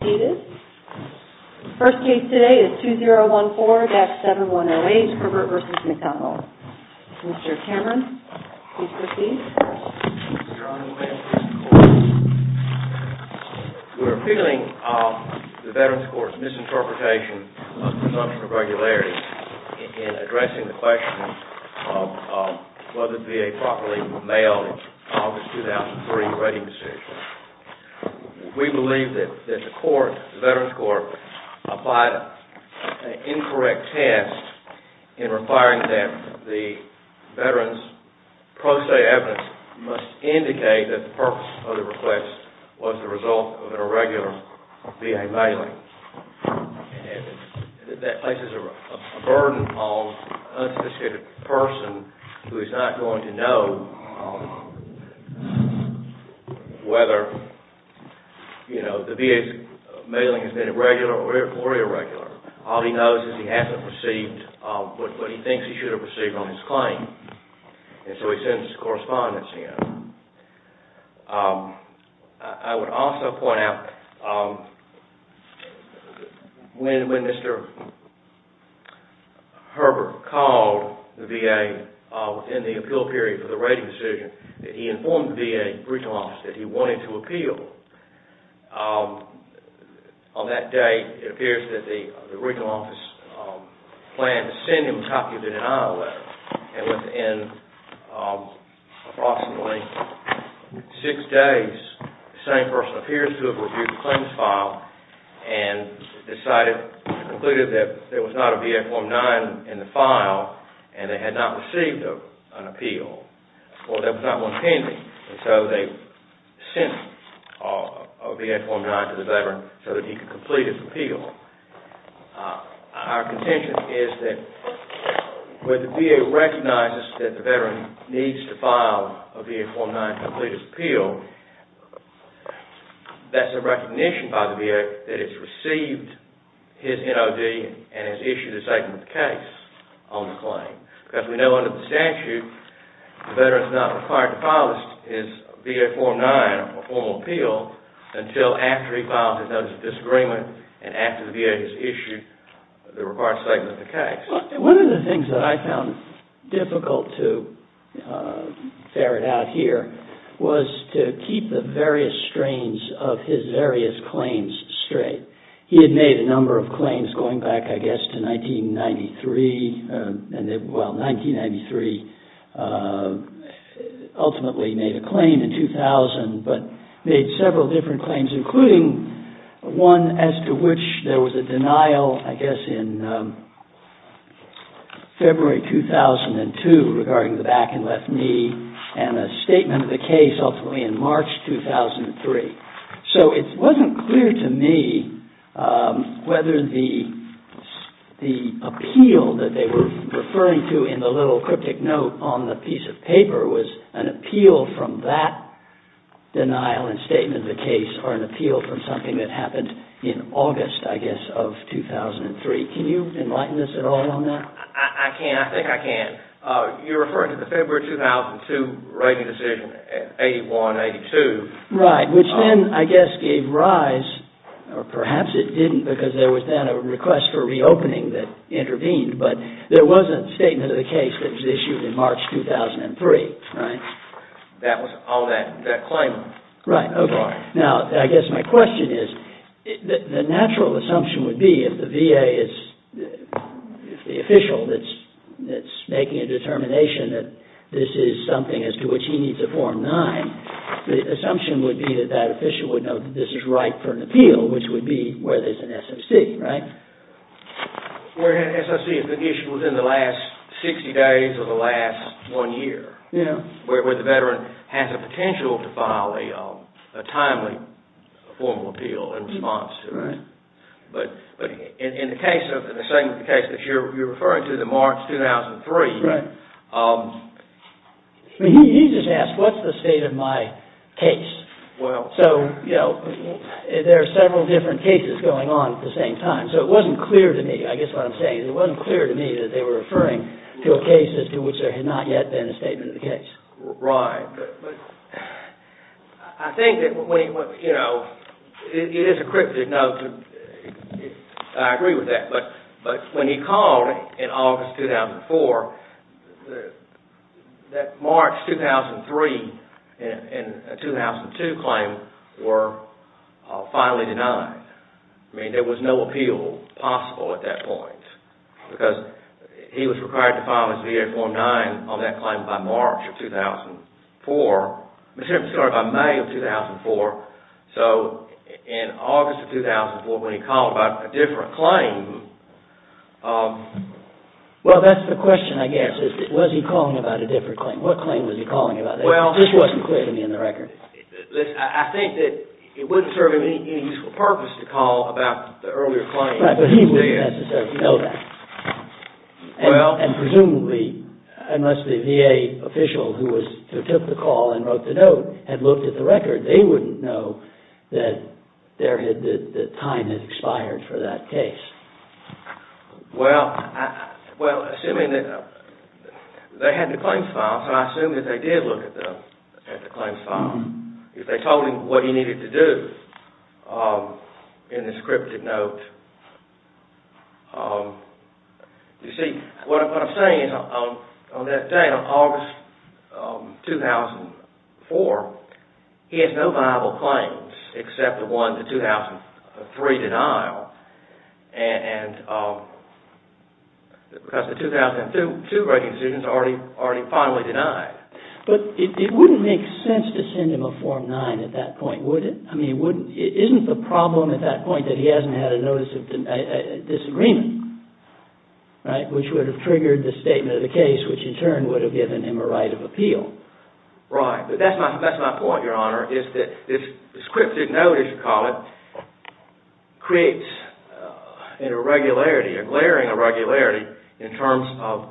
The first case today is 2014-7108, Herbert v. McDonald. Mr. Cameron, please proceed. We're appealing the Veterans' Court's misinterpretation of presumption of regularity in addressing the question of whether the VA properly mailed an August 2003 rating decision. We believe that the Veterans' Court applied an incorrect test in requiring that the Veterans' pro se evidence must indicate that the purpose of the request was the result of an irregular VA mailing. That places a burden on an unsophisticated person who is not going to know whether the VA's mailing has been regular or irregular. All he knows is he hasn't received what he thinks he should have received on his claim. I would also point out when Mr. Herbert called the VA in the appeal period for the rating decision, he informed the VA regional office that he wanted to appeal. On that day, it appears that the regional office planned to send him a copy of the denial letter. Within approximately six days, the same person appears to have reviewed the claims file and concluded that there was not a VA Form 9 in the file and they had not received an appeal. Well, there was not one pending and so they sent a VA Form 9 to the Veteran so that he could complete his appeal. Our contention is that when the VA recognizes that the Veteran needs to file a VA Form 9 to complete his appeal, that's a recognition by the VA that it's received his NOD and has issued a statement of the case on the claim. Because we know under the statute, the Veteran is not required to file his VA Form 9 for formal appeal until after he files his Notice of Disagreement and after the VA has issued the required statement of the case. One of the things that I found difficult to ferret out here was to keep the various strains of his various claims straight. He had made a number of claims going back, I guess, to 1993. Well, 1993 ultimately made a claim in 2000, but made several different claims, including one as to which there was a denial, I guess, in February 2002 regarding the back and left knee and a statement of the case ultimately in March 2003. So it wasn't clear to me whether the appeal that they were referring to in the little cryptic note on the piece of paper was an appeal from that denial and statement of the case or an appeal from something that happened in August, I guess, of 2003. Can you enlighten us at all on that? I can. I think I can. You're referring to the February 2002 rating decision, 81-82. Right, which then, I guess, gave rise, or perhaps it didn't because there was then a request for reopening that intervened, but there was a statement of the case that was issued in March 2003, right? That was all that claim. Now, I guess my question is, the natural assumption would be if the VA is the official that's making a determination that this is something as to which he needs a Form 9, the assumption would be that that official would know that this is right for an appeal, which would be where there's an SOC, right? Where an SOC has been issued within the last 60 days of the last one year. Yeah. Where the veteran has a potential to file a timely formal appeal in response to it. Right. But in the case that you're referring to, the March 2003... Right. He just asked, what's the state of my case? Well... So, you know, there are several different cases going on at the same time. So it wasn't clear to me, I guess what I'm saying, it wasn't clear to me that they were referring to a case to which there had not yet been a statement of the case. Right. I think that, you know, it is a cryptic note. I agree with that. But when he called in August 2004, that March 2003 and 2002 claim were finally denied. I mean, there was no appeal possible at that point. Because he was required to file his VA Form 9 on that claim by March of 2004. I'm sorry, by May of 2004. So in August of 2004, when he called about a different claim... Well, that's the question, I guess. Was he calling about a different claim? What claim was he calling about? Well... This wasn't clear to me in the record. Listen, I think that it wouldn't serve any useful purpose to call about the earlier claim. But he wouldn't necessarily know that. And presumably, unless the VA official who took the call and wrote the note had looked at the record, they wouldn't know that time had expired for that case. Well, assuming that... They had the claims file, so I assume that they did look at the claims file. If they told him what he needed to do in the scripted note... You see, what I'm saying is, on that day, on August 2004, he has no viable claims except the one, the 2003 denial. Because the 2002 rating decisions are already finally denied. But it wouldn't make sense to send him a Form 9 at that point, would it? I mean, wouldn't... Isn't the problem at that point that he hasn't had a notice of disagreement? Right? Which would have triggered the statement of the case, which in turn would have given him a right of appeal. Right. But that's my point, Your Honor, is that the scripted note, as you call it, creates an irregularity, a glaring irregularity, in terms of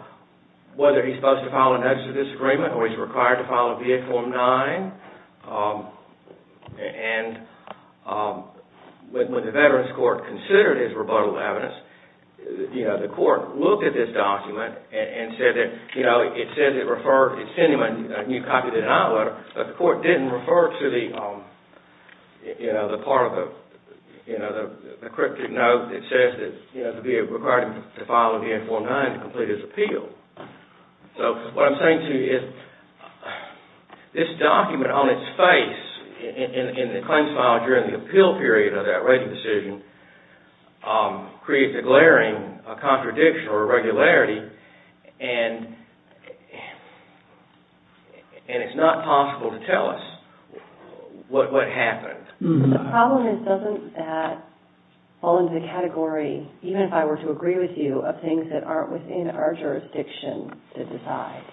whether he's supposed to file a notice of disagreement, or he's required to file a Viet Form 9. And when the Veterans Court considered his rebuttal evidence, the court looked at this document and said that it said it referred... It sent him a new copy of the denial letter, but the court didn't refer to the part of the scripted note that says that he'd be required to file a Viet Form 9 to complete his appeal. So, what I'm saying to you is, this document on its face in the claims file during the appeal period of that rating decision creates a glaring contradiction or irregularity, and it's not possible to tell us what happened. The problem is, doesn't that fall into the category, even if I were to agree with you, of things that aren't within our jurisdiction to decide?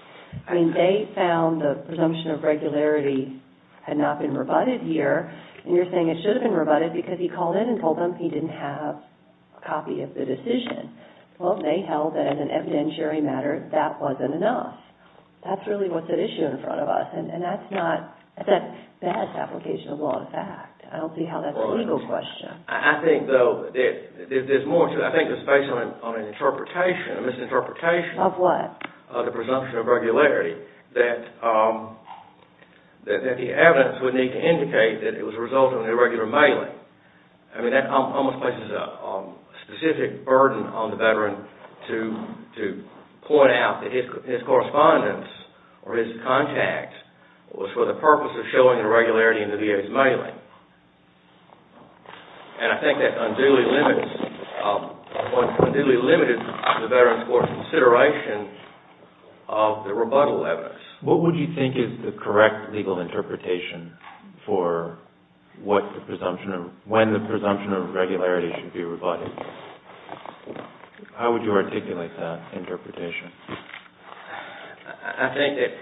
I mean, they found the presumption of regularity had not been rebutted here, and you're saying it should have been rebutted because he called in and told them he didn't have a copy of the decision. Well, they held that as an evidentiary matter, that wasn't enough. That's really what's at issue in front of us, and that's not a bad application of law of fact. I don't see how that's a legal question. I think, though, there's more to it. I think it's based on an interpretation, a misinterpretation. Of what? Of the presumption of regularity, that the evidence would need to indicate that it was a result of an irregular mailing. I mean, that almost places a specific burden on the veteran to point out that his correspondence or his contact was for the purpose of showing irregularity in the VA's mailing. And I think that unduly limits the veteran's consideration of the rebuttal evidence. What would you think is the correct legal interpretation for when the presumption of regularity should be rebutted? How would you articulate that interpretation? I think that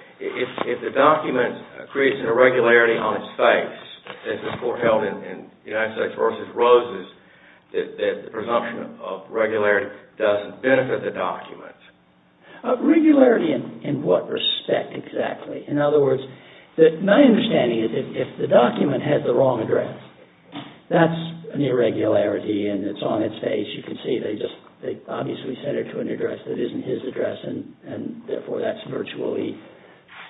if the document creates an irregularity on its face, as was foreheld in United States v. Roses, that the presumption of regularity doesn't benefit the document. Regularity in what respect, exactly? In other words, my understanding is that if the document has the wrong address, that's an irregularity and it's on its face. You can see they obviously sent it to an address that isn't his address and therefore that's virtually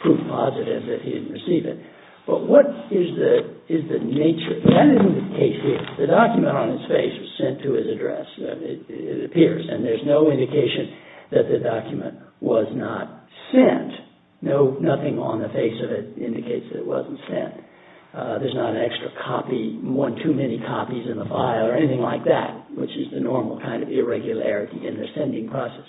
proof positive that he didn't receive it. But what is the nature? That indicates that the document on its face was sent to his address. It appears. And there's no indication that the document was not sent. Nothing on the face of it indicates that it wasn't sent. There's not an extra copy, one too many copies in the file or anything like that, which is the normal kind of irregularity in the sending process.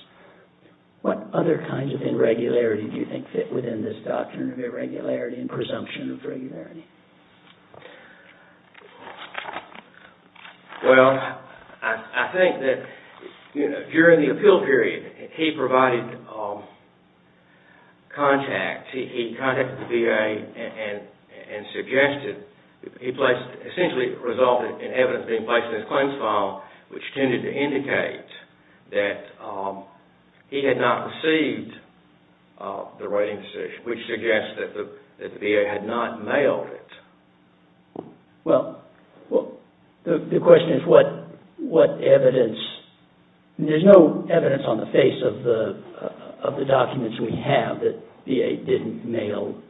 What other kinds of irregularity do you think fit within this doctrine of irregularity and presumption of regularity? Well, I think that during the appeal period, he provided contact. He contacted the VA and suggested, he essentially resulted in evidence being placed in his claims file, which tended to indicate that he had not received the writing decision, which suggests that the VA had not mailed it. Well, the question is what evidence. There's no evidence on the face of the documents we have that VA didn't mail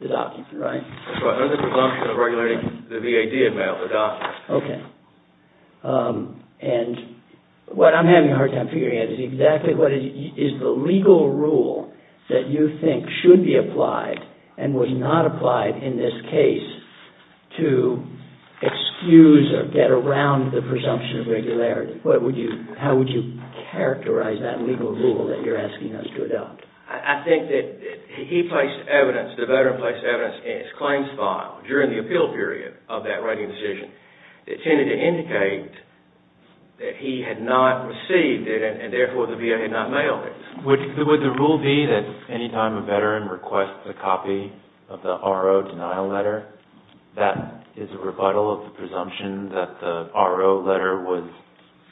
the documents, right? That's right. Under the presumption of regularity, the VA did mail the documents. Okay. And what I'm having a hard time figuring out is exactly what is the legal rule that you think should be applied and was not applied in this case to excuse or get around the presumption of regularity? How would you characterize that legal rule that you're asking us to adopt? I think that he placed evidence, the veteran placed evidence in his claims file during the appeal period of that writing decision that tended to indicate that he had not received it, and therefore the VA had not mailed it. Would the rule be that any time a veteran requests a copy of the RO denial letter, that is a rebuttal of the presumption that the RO letter was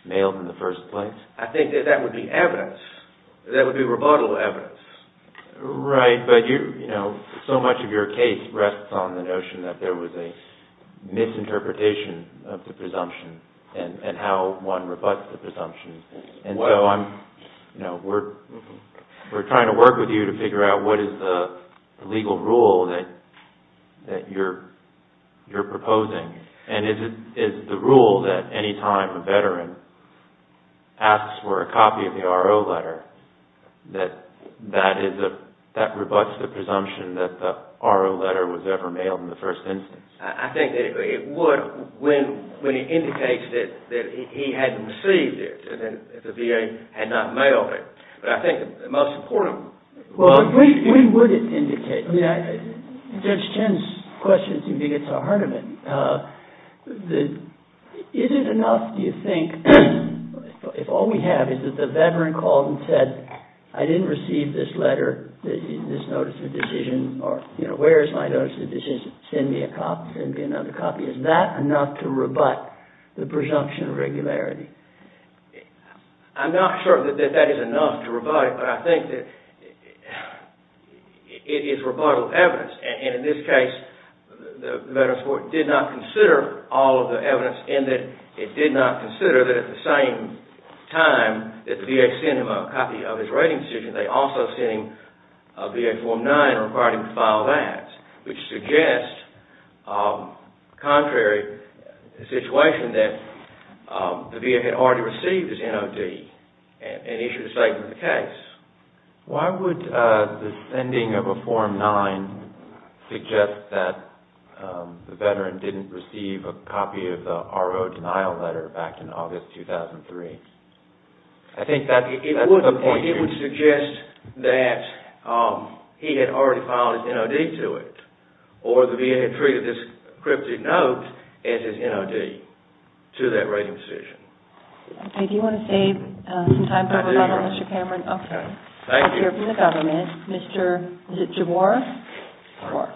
mailed in the first place? I think that that would be evidence. That would be rebuttal evidence. Right, but so much of your case rests on the notion that there was a misinterpretation of the presumption and how one rebuts the presumption. We're trying to work with you to figure out what is the legal rule that you're proposing, and is the rule that any time a veteran asks for a copy of the RO letter, that rebuts the presumption that the RO letter was ever mailed in the first instance? I think that it would when it indicates that he hadn't received it and the VA had not mailed it. But I think the most important... Well, we would indicate. Judge Chen's question to me gets the heart of it. Is it enough, do you think, if all we have is that the veteran called and said, I didn't receive this letter, this notice of decision, or where is my notice of decision? Send me a copy, send me another copy. Is that enough to rebut the presumption of regularity? I'm not sure that that is enough to rebut it, but I think that it is rebuttal of evidence. And in this case, the veteran's court did not consider all of the evidence in that It did not consider that at the same time that the VA sent him a copy of his writing decision, they also sent him a VA Form 9 requiring him to file that, which suggests, contrary to the situation, that the VA had already received his NOD Why would the sending of a Form 9 suggest that the veteran didn't receive a copy of the RO denial letter back in August 2003? I think that's the point. It would suggest that he had already filed his NOD to it, or the VA had treated this encrypted note as his NOD to that writing decision. I do want to save some time for a rebuttal, Mr. Cameron. Okay. Thank you. We'll hear from the government. Mr. Javar?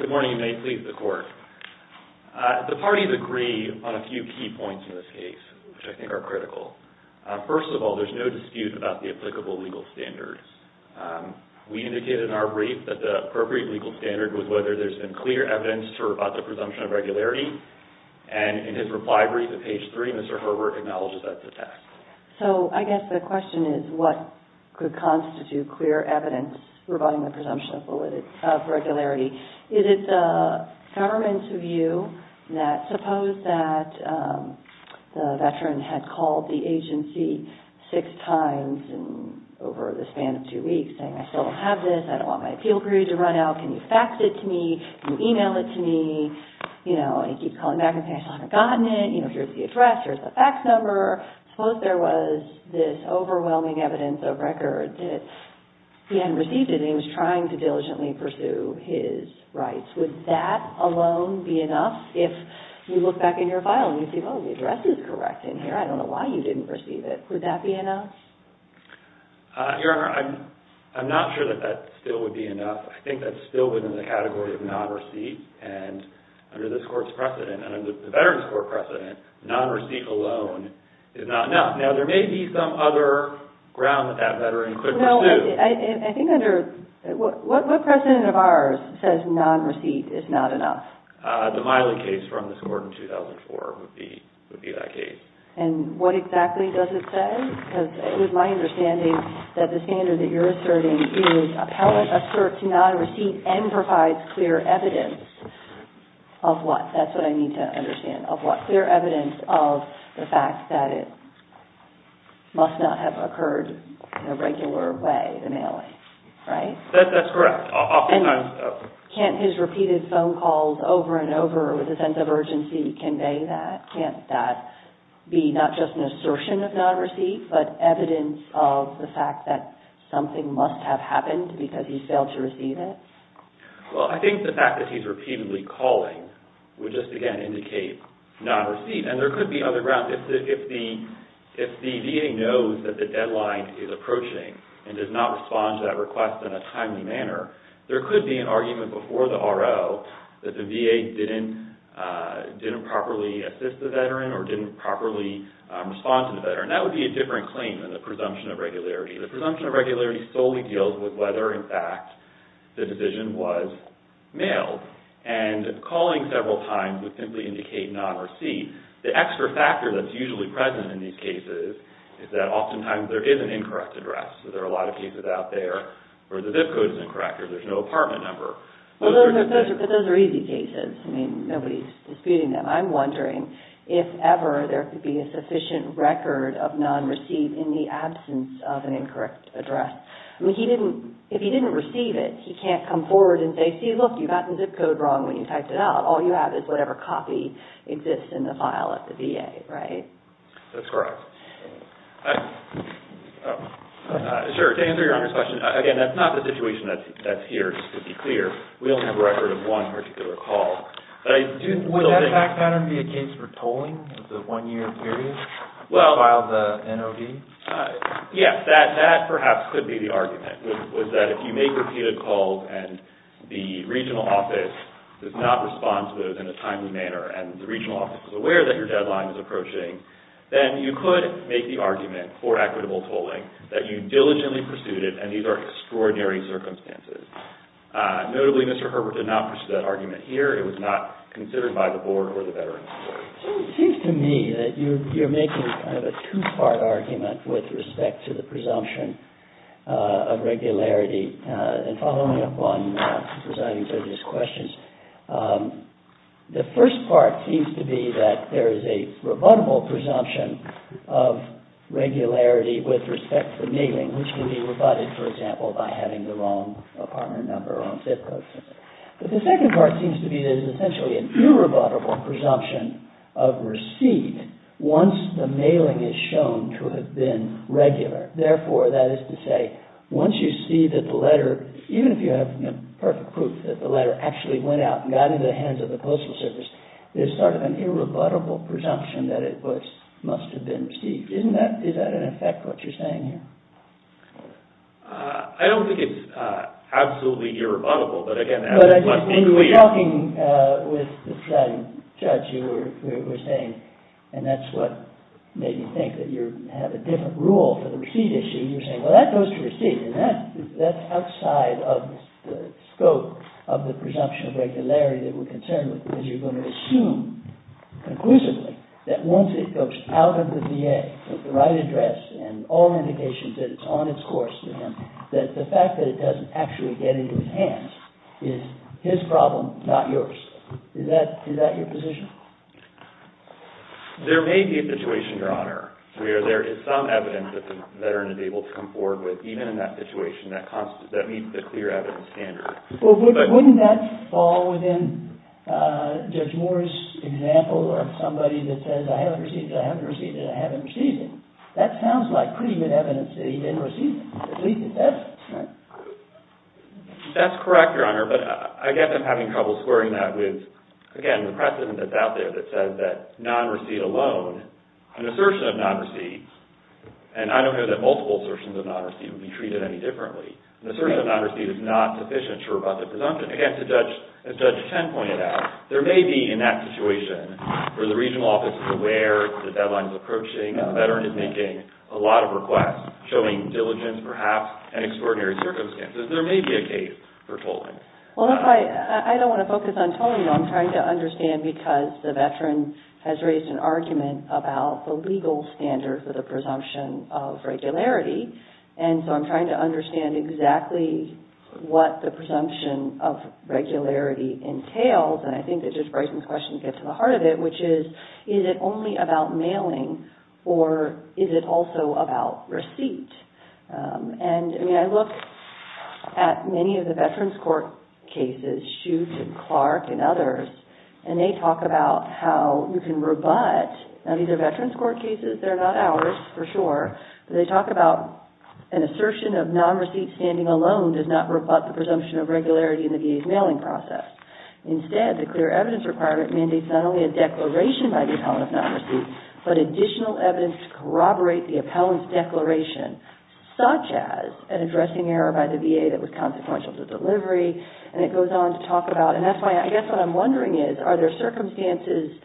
Good morning, and may it please the Court. The parties agree on a few key points in this case, which I think are critical. First of all, there's no dispute about the applicable legal standards. We indicated in our brief that the appropriate legal standard was whether there's been clear evidence to rebut the presumption of regularity, and in his reply brief at page 3, Mr. Herbert acknowledges that's a fact. So I guess the question is what could constitute clear evidence rebutting the presumption of regularity. Is it the government's view that suppose that the veteran had called the agency six times over the span of two weeks saying, I still don't have this, I don't want my appeal period to run out, can you fax it to me, can you email it to me, and he keeps calling back and saying, I still haven't gotten it, here's the address, here's the fax number. Suppose there was this overwhelming evidence of record that he hadn't received it, and he was trying to diligently pursue his rights. Would that alone be enough? If you look back in your file and you see, oh, the address is correct in here, I don't know why you didn't receive it. Would that be enough? Your Honor, I'm not sure that that still would be enough. I think that's still within the category of non-receipt, and under this Court's precedent, under the veteran's Court precedent, non-receipt alone is not enough. Now, there may be some other ground that that veteran could pursue. I think under – what precedent of ours says non-receipt is not enough? The Miley case from this Court in 2004 would be that case. And what exactly does it say? Because it was my understanding that the standard that you're asserting is appellate asserts non-receipt and provides clear evidence of what? That's what I need to understand, of what? Clear evidence of the fact that it must not have occurred in a regular way, the Miley, right? That's correct. Can't his repeated phone calls over and over with a sense of urgency convey that? Can't that be not just an assertion of non-receipt, but evidence of the fact that something must have happened because he failed to receive it? Well, I think the fact that he's repeatedly calling would just, again, indicate non-receipt. And there could be other grounds. If the VA knows that the deadline is approaching and does not respond to that request in a timely manner, there could be an argument before the RO that the VA didn't properly assist the veteran or didn't properly respond to the veteran. That would be a different claim than the presumption of regularity. The presumption of regularity solely deals with whether, in fact, the decision was mailed. And calling several times would simply indicate non-receipt. The extra factor that's usually present in these cases is that oftentimes there is an incorrect address. There are a lot of cases out there where the zip code is incorrect or there's no apartment number. But those are easy cases. I mean, nobody's disputing them. I'm wondering if ever there could be a sufficient record of non-receipt in the absence of an incorrect address. I mean, if he didn't receive it, he can't come forward and say, see, look, you got the zip code wrong when you typed it out. All you have is whatever copy exists in the file at the VA, right? That's correct. Sure, to answer your Honor's question, again, that's not the situation that's here, just to be clear. We only have a record of one particular call. Would that back pattern be a case for tolling of the one-year period to file the NOD? Yes, that perhaps could be the argument, was that if you make repeated calls and the regional office does not respond to those in a timely manner and the regional office is aware that your deadline is approaching, then you could make the argument for equitable tolling that you diligently pursued it, and these are extraordinary circumstances. Notably, Mr. Herbert did not pursue that argument here. It was not considered by the Board or the Veterans Authority. So it seems to me that you're making kind of a two-part argument with respect to the presumption of regularity. And following up on the presiding judge's questions, the first part seems to be that there is a rebuttable presumption of regularity with respect to mailing, which can be rebutted, for example, by having the wrong apartment number or zip code. But the second part seems to be that there is essentially an irrebuttable presumption of receipt once the mailing is shown to have been regular. Therefore, that is to say, once you see that the letter, even if you have the perfect proof that the letter actually went out and got into the hands of the Postal Service, there's sort of an irrebuttable presumption that it must have been received. Is that in effect what you're saying here? I don't think it's absolutely irrebuttable, but again, as it must be clear... But I guess when you were talking with the presiding judge, you were saying, and that's what made me think that you have a different rule for the receipt issue, you were saying, well, that goes to receipt. And that's outside of the scope of the presumption of regularity that we're concerned with, because you're going to assume conclusively that once it goes out of the VA with the right address and all indications that it's on its course to him, that the fact that it doesn't actually get into his hands is his problem, not yours. Is that your position? There may be a situation, Your Honor, where there is some evidence that the veteran is able to come forward with, even in that situation, that meets the clear evidence standard. Well, wouldn't that fall within Judge Moore's example of somebody that says, I haven't received it, I haven't received it, I haven't received it. That sounds like pretty good evidence that he didn't receive it, at least at that point. That's correct, Your Honor, but I guess I'm having trouble squaring that with, again, the precedent that's out there that says that non-receipt alone, an assertion of non-receipt, and I don't know that multiple assertions of non-receipt would be treated any differently, an assertion of non-receipt is not sufficient to rebut the presumption. Again, as Judge Ten pointed out, there may be, in that situation, where the regional office is aware that the deadline is approaching and the veteran is making a lot of requests, showing diligence, perhaps, and extraordinary circumstances, there may be a case for tolling. Well, I don't want to focus on tolling, though. I'm trying to understand because the veteran has raised an argument about the legal standard for the presumption of regularity, and so I'm trying to understand exactly what the presumption of regularity entails, and I think that Judge Bryson's question gets to the heart of it, which is, is it only about mailing, or is it also about receipt? And, I mean, I look at many of the veterans' court cases, Shute and Clark and others, and they talk about how you can rebut, now these are veterans' court cases, they're not ours, for sure, but they talk about an assertion of non-receipt standing alone does not rebut the presumption of regularity in the VA's mailing process. Instead, the clear evidence requirement mandates not only a declaration by the appellant of non-receipt, but additional evidence to corroborate the appellant's declaration, such as an addressing error by the VA that was consequential to delivery, and it goes on to talk about, and that's why I guess what I'm wondering is, are there circumstances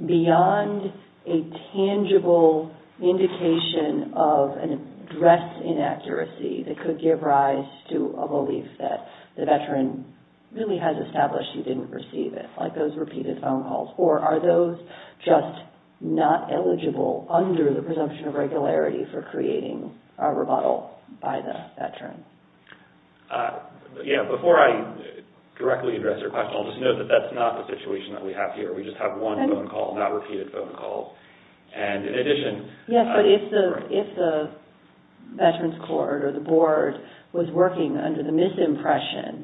beyond a tangible indication of an address inaccuracy that could give rise to a belief that the veteran really has established he didn't receive it, like those repeated phone calls, or are those just not eligible under the presumption of regularity for creating a rebuttal by the veteran? Yeah, before I directly address your question, I'll just note that that's not the situation that we have here. We just have one phone call, not repeated phone calls, and in addition... Yes, but if the veterans' court or the board was working under the misimpression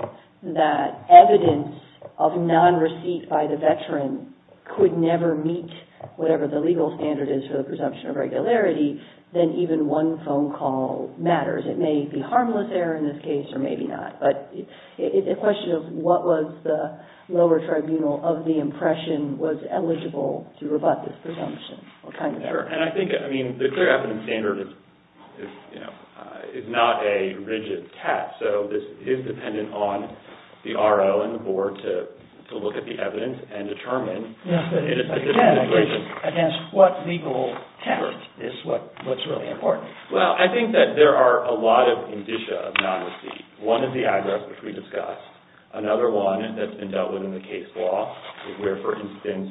that evidence of non-receipt by the veteran could never meet whatever the legal standard is for the presumption of regularity, then even one phone call matters. It may be harmless error in this case, or maybe not, but it's a question of what was the lower tribunal of the impression was eligible to rebut this presumption. Sure, and I think the clear evidence standard is not a rigid test, so this is dependent on the R.O. and the board to look at the evidence and determine if it is... Again, it's against what legal test is what's really important. Well, I think that there are a lot of indicia of non-receipt. One is the address, which we discussed. Another one that's been dealt with in the case law is where, for instance,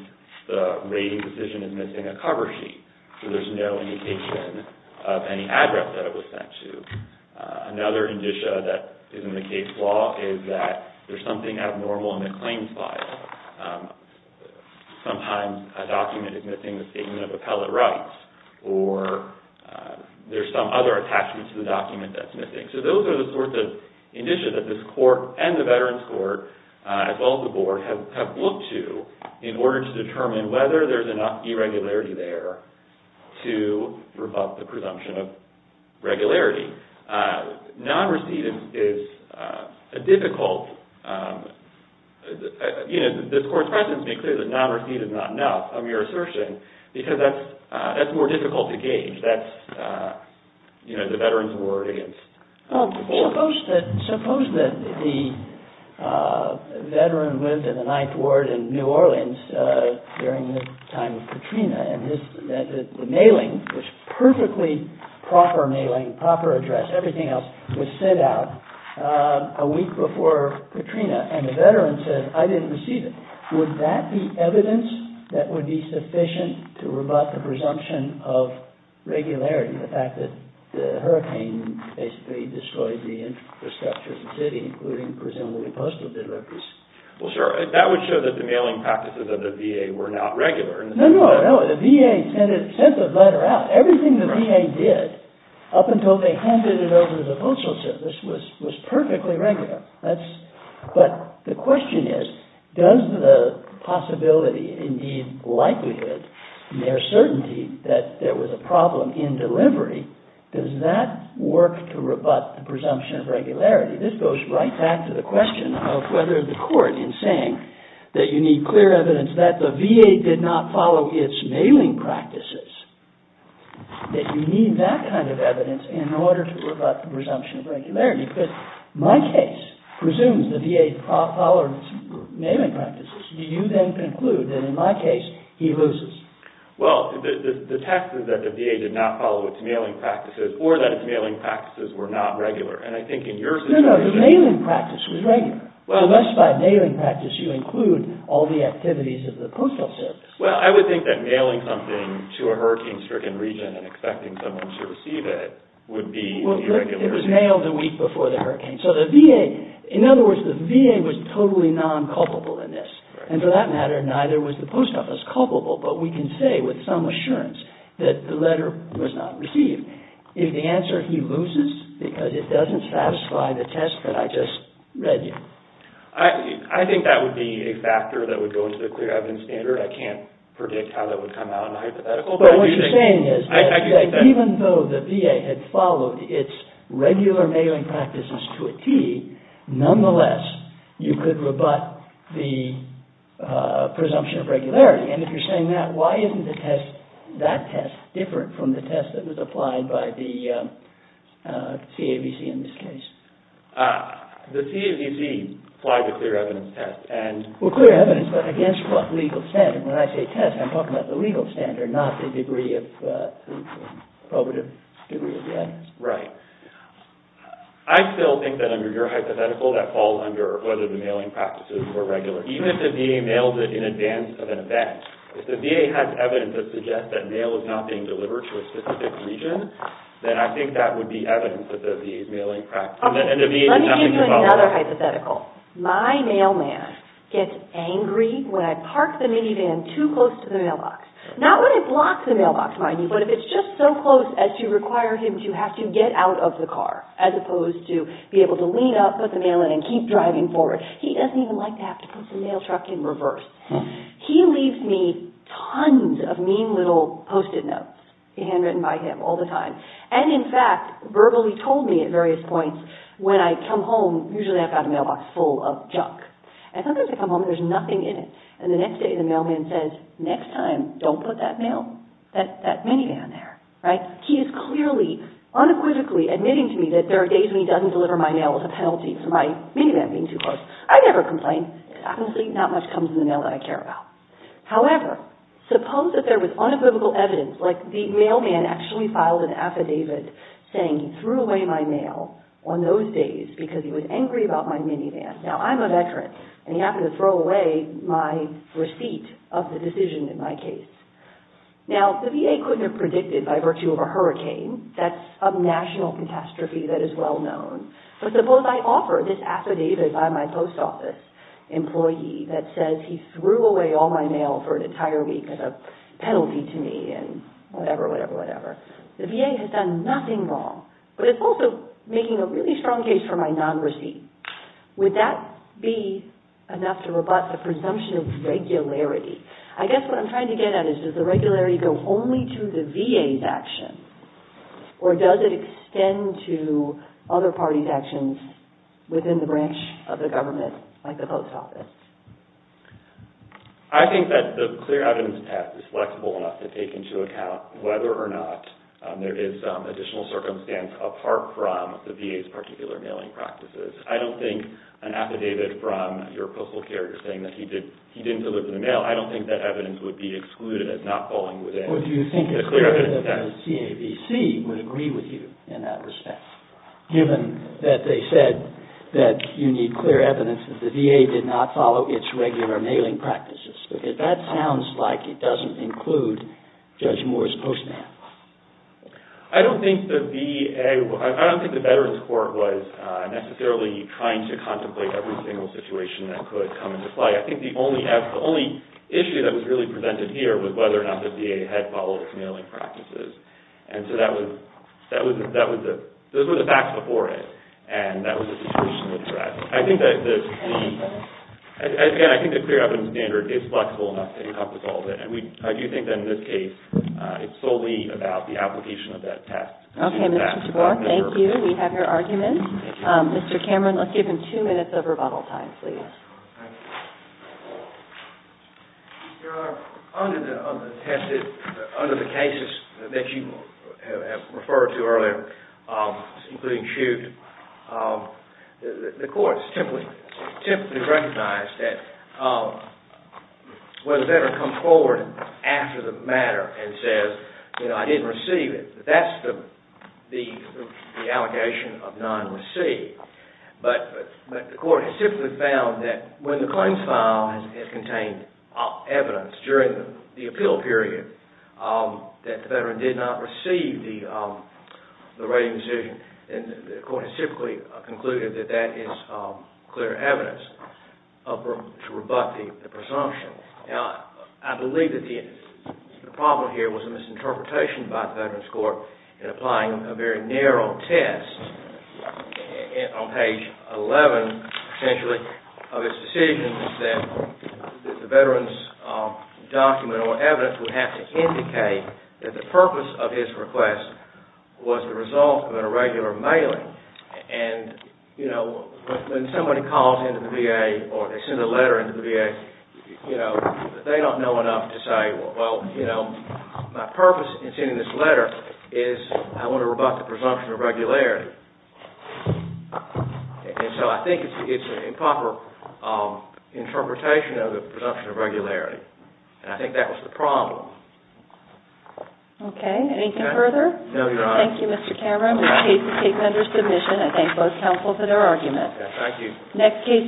the rating decision is missing a cover sheet, so there's no indication of any address that it was sent to. Another indicia that is in the case law is that there's something abnormal in the claims file. Sometimes a document is missing the statement of appellate rights, or there's some other attachment to the document that's missing. So those are the sorts of indicia that this court and the veterans court, as well as the board, have looked to in order to determine whether there's enough irregularity there to rebut the presumption of regularity. Non-receipt is a difficult... You know, this court's precedents make clear that non-receipt is not enough Suppose that the veteran lived in the Ninth Ward in New Orleans during the time of Katrina, and the mailing was perfectly proper mailing, proper address, everything else, was sent out a week before Katrina, and the veteran said, I didn't receive it. Would that be evidence that would be sufficient to rebut the presumption of regularity, the fact that the hurricane basically destroyed the infrastructure of the city, including presumably postal deliveries? Well, sir, that would show that the mailing practices of the VA were not regular. No, no, no. The VA sent the letter out. Everything the VA did, up until they handed it over to the Postal Service, was perfectly regular. But the question is, does the possibility, indeed likelihood, and their certainty that there was a problem in delivery, does that work to rebut the presumption of regularity? This goes right back to the question of whether the court, in saying that you need clear evidence that the VA did not follow its mailing practices, that you need that kind of evidence in order to rebut the presumption of regularity. Because my case presumes the VA followed its mailing practices. Do you then conclude that in my case, he loses? Well, the text is that the VA did not follow its mailing practices, or that its mailing practices were not regular. And I think in your situation... No, no. The mailing practice was regular. Unless by mailing practice you include all the activities of the Postal Service. Well, I would think that mailing something to a hurricane-stricken region and expecting someone to receive it would be irregular. It was May of the week before the hurricane. So the VA, in other words, the VA was totally non-culpable in this. And for that matter, neither was the Post Office culpable. But we can say with some assurance that the letter was not received. If the answer, he loses, because it doesn't satisfy the test that I just read you. I think that would be a factor that would go into the clear evidence standard. I can't predict how that would come out in a hypothetical. But what you're saying is that even though the VA had followed its regular mailing practices to a T, nonetheless, you could rebut the presumption of regularity. And if you're saying that, why isn't the test, that test, different from the test that was applied by the CAVC in this case? The CAVC applied the clear evidence test. Well, clear evidence, but against what legal standard? When I say test, I'm talking about the legal standard, not the degree of, the probative degree of the evidence. Right. I still think that under your hypothetical, that falls under whether the mailing practices were regular. Even if the VA mailed it in advance of an event, if the VA has evidence that suggests that mail is not being delivered to a specific region, then I think that would be evidence that the VA's mailing practices. Let me give you another hypothetical. My mailman gets angry when I park the minivan too close to the mailbox. Not when it blocks the mailbox, mind you, but if it's just so close as to require him to have to get out of the car, as opposed to be able to lean up, put the mail in, and keep driving forward. He doesn't even like to have to put the mail truck in reverse. He leaves me tons of mean little post-it notes, handwritten by him all the time. And in fact, verbally told me at various points, when I come home, usually I've got a mailbox full of junk. And sometimes I come home and there's nothing in it. And the next day the mailman says, next time, don't put that mail, that minivan there. He is clearly, unequivocally, admitting to me that there are days when he doesn't deliver my mail with a penalty for my minivan being too close. I never complain. Honestly, not much comes in the mail that I care about. However, suppose that there was unequivocal evidence, like the mailman actually filed an affidavit saying he threw away my mail on those days because he was angry about my minivan. Now, I'm a veteran. And he happened to throw away my receipt of the decision in my case. Now, the VA couldn't have predicted, by virtue of a hurricane, that subnational catastrophe that is well known. But suppose I offer this affidavit by my post office employee that says he threw away all my mail for an entire week as a penalty to me and whatever, whatever, whatever. The VA has done nothing wrong. But it's also making a really strong case for my non-receipt. Would that be enough to rebut the presumption of regularity? I guess what I'm trying to get at is, does the regularity go only to the VA's action or does it extend to other parties' actions within the branch of the government, like the post office? I think that the clear evidence test is flexible enough to take into account whether or not there is additional circumstance apart from the VA's particular mailing practices. I don't think an affidavit from your postal carrier saying that he didn't deliver the mail, I don't think that evidence would be excluded as not falling within the clear evidence test. Or do you think the clear evidence of the CAVC would agree with you in that respect, given that they said that you need clear evidence that the VA did not follow its regular mailing practices? Because that sounds like it doesn't include Judge Moore's postman. I don't think the VA, I don't think the Veterans Court was necessarily trying to contemplate every single situation that could come into play. I think the only issue that was really presented here was whether or not the VA had followed its mailing practices. And so that was, those were the facts before it. And that was a situational threat. I think that the, again, I think the clear evidence standard is flexible enough to encompass all of it. And I do think that in this case, it's solely about the application of that test. Okay, Mr. DeBoer, thank you. We have your argument. Mr. Cameron, let's give him two minutes of rebuttal time, please. Your Honor, under the cases that you have referred to earlier, including Chute, the courts typically recognize that when a veteran comes forward after the matter and says, you know, I didn't receive it, that's the allegation of non-receipt. But the court has typically found that when the claims file has contained evidence during the appeal period that the veteran did not receive the rating decision. And the court has typically concluded that that is clear evidence to rebut the presumption. Now, I believe that the problem here was a misinterpretation by the Veterans Court in applying a very narrow test on page 11, essentially, of its decision that the veteran's document or evidence would have to indicate that the purpose of his request was the result of an irregular mailing. And, you know, when somebody calls into the VA or they send a letter into the VA, you know, they don't know enough to say, well, you know, my purpose in sending this letter is I want to rebut the presumption of regularity. And so I think it's an improper interpretation of the presumption of regularity. And I think that was the problem. Okay. Anything further? No, Your Honor. Thank you, Mr. Cameron. The case is taken under submission. I thank both counsel for their argument. Thank you.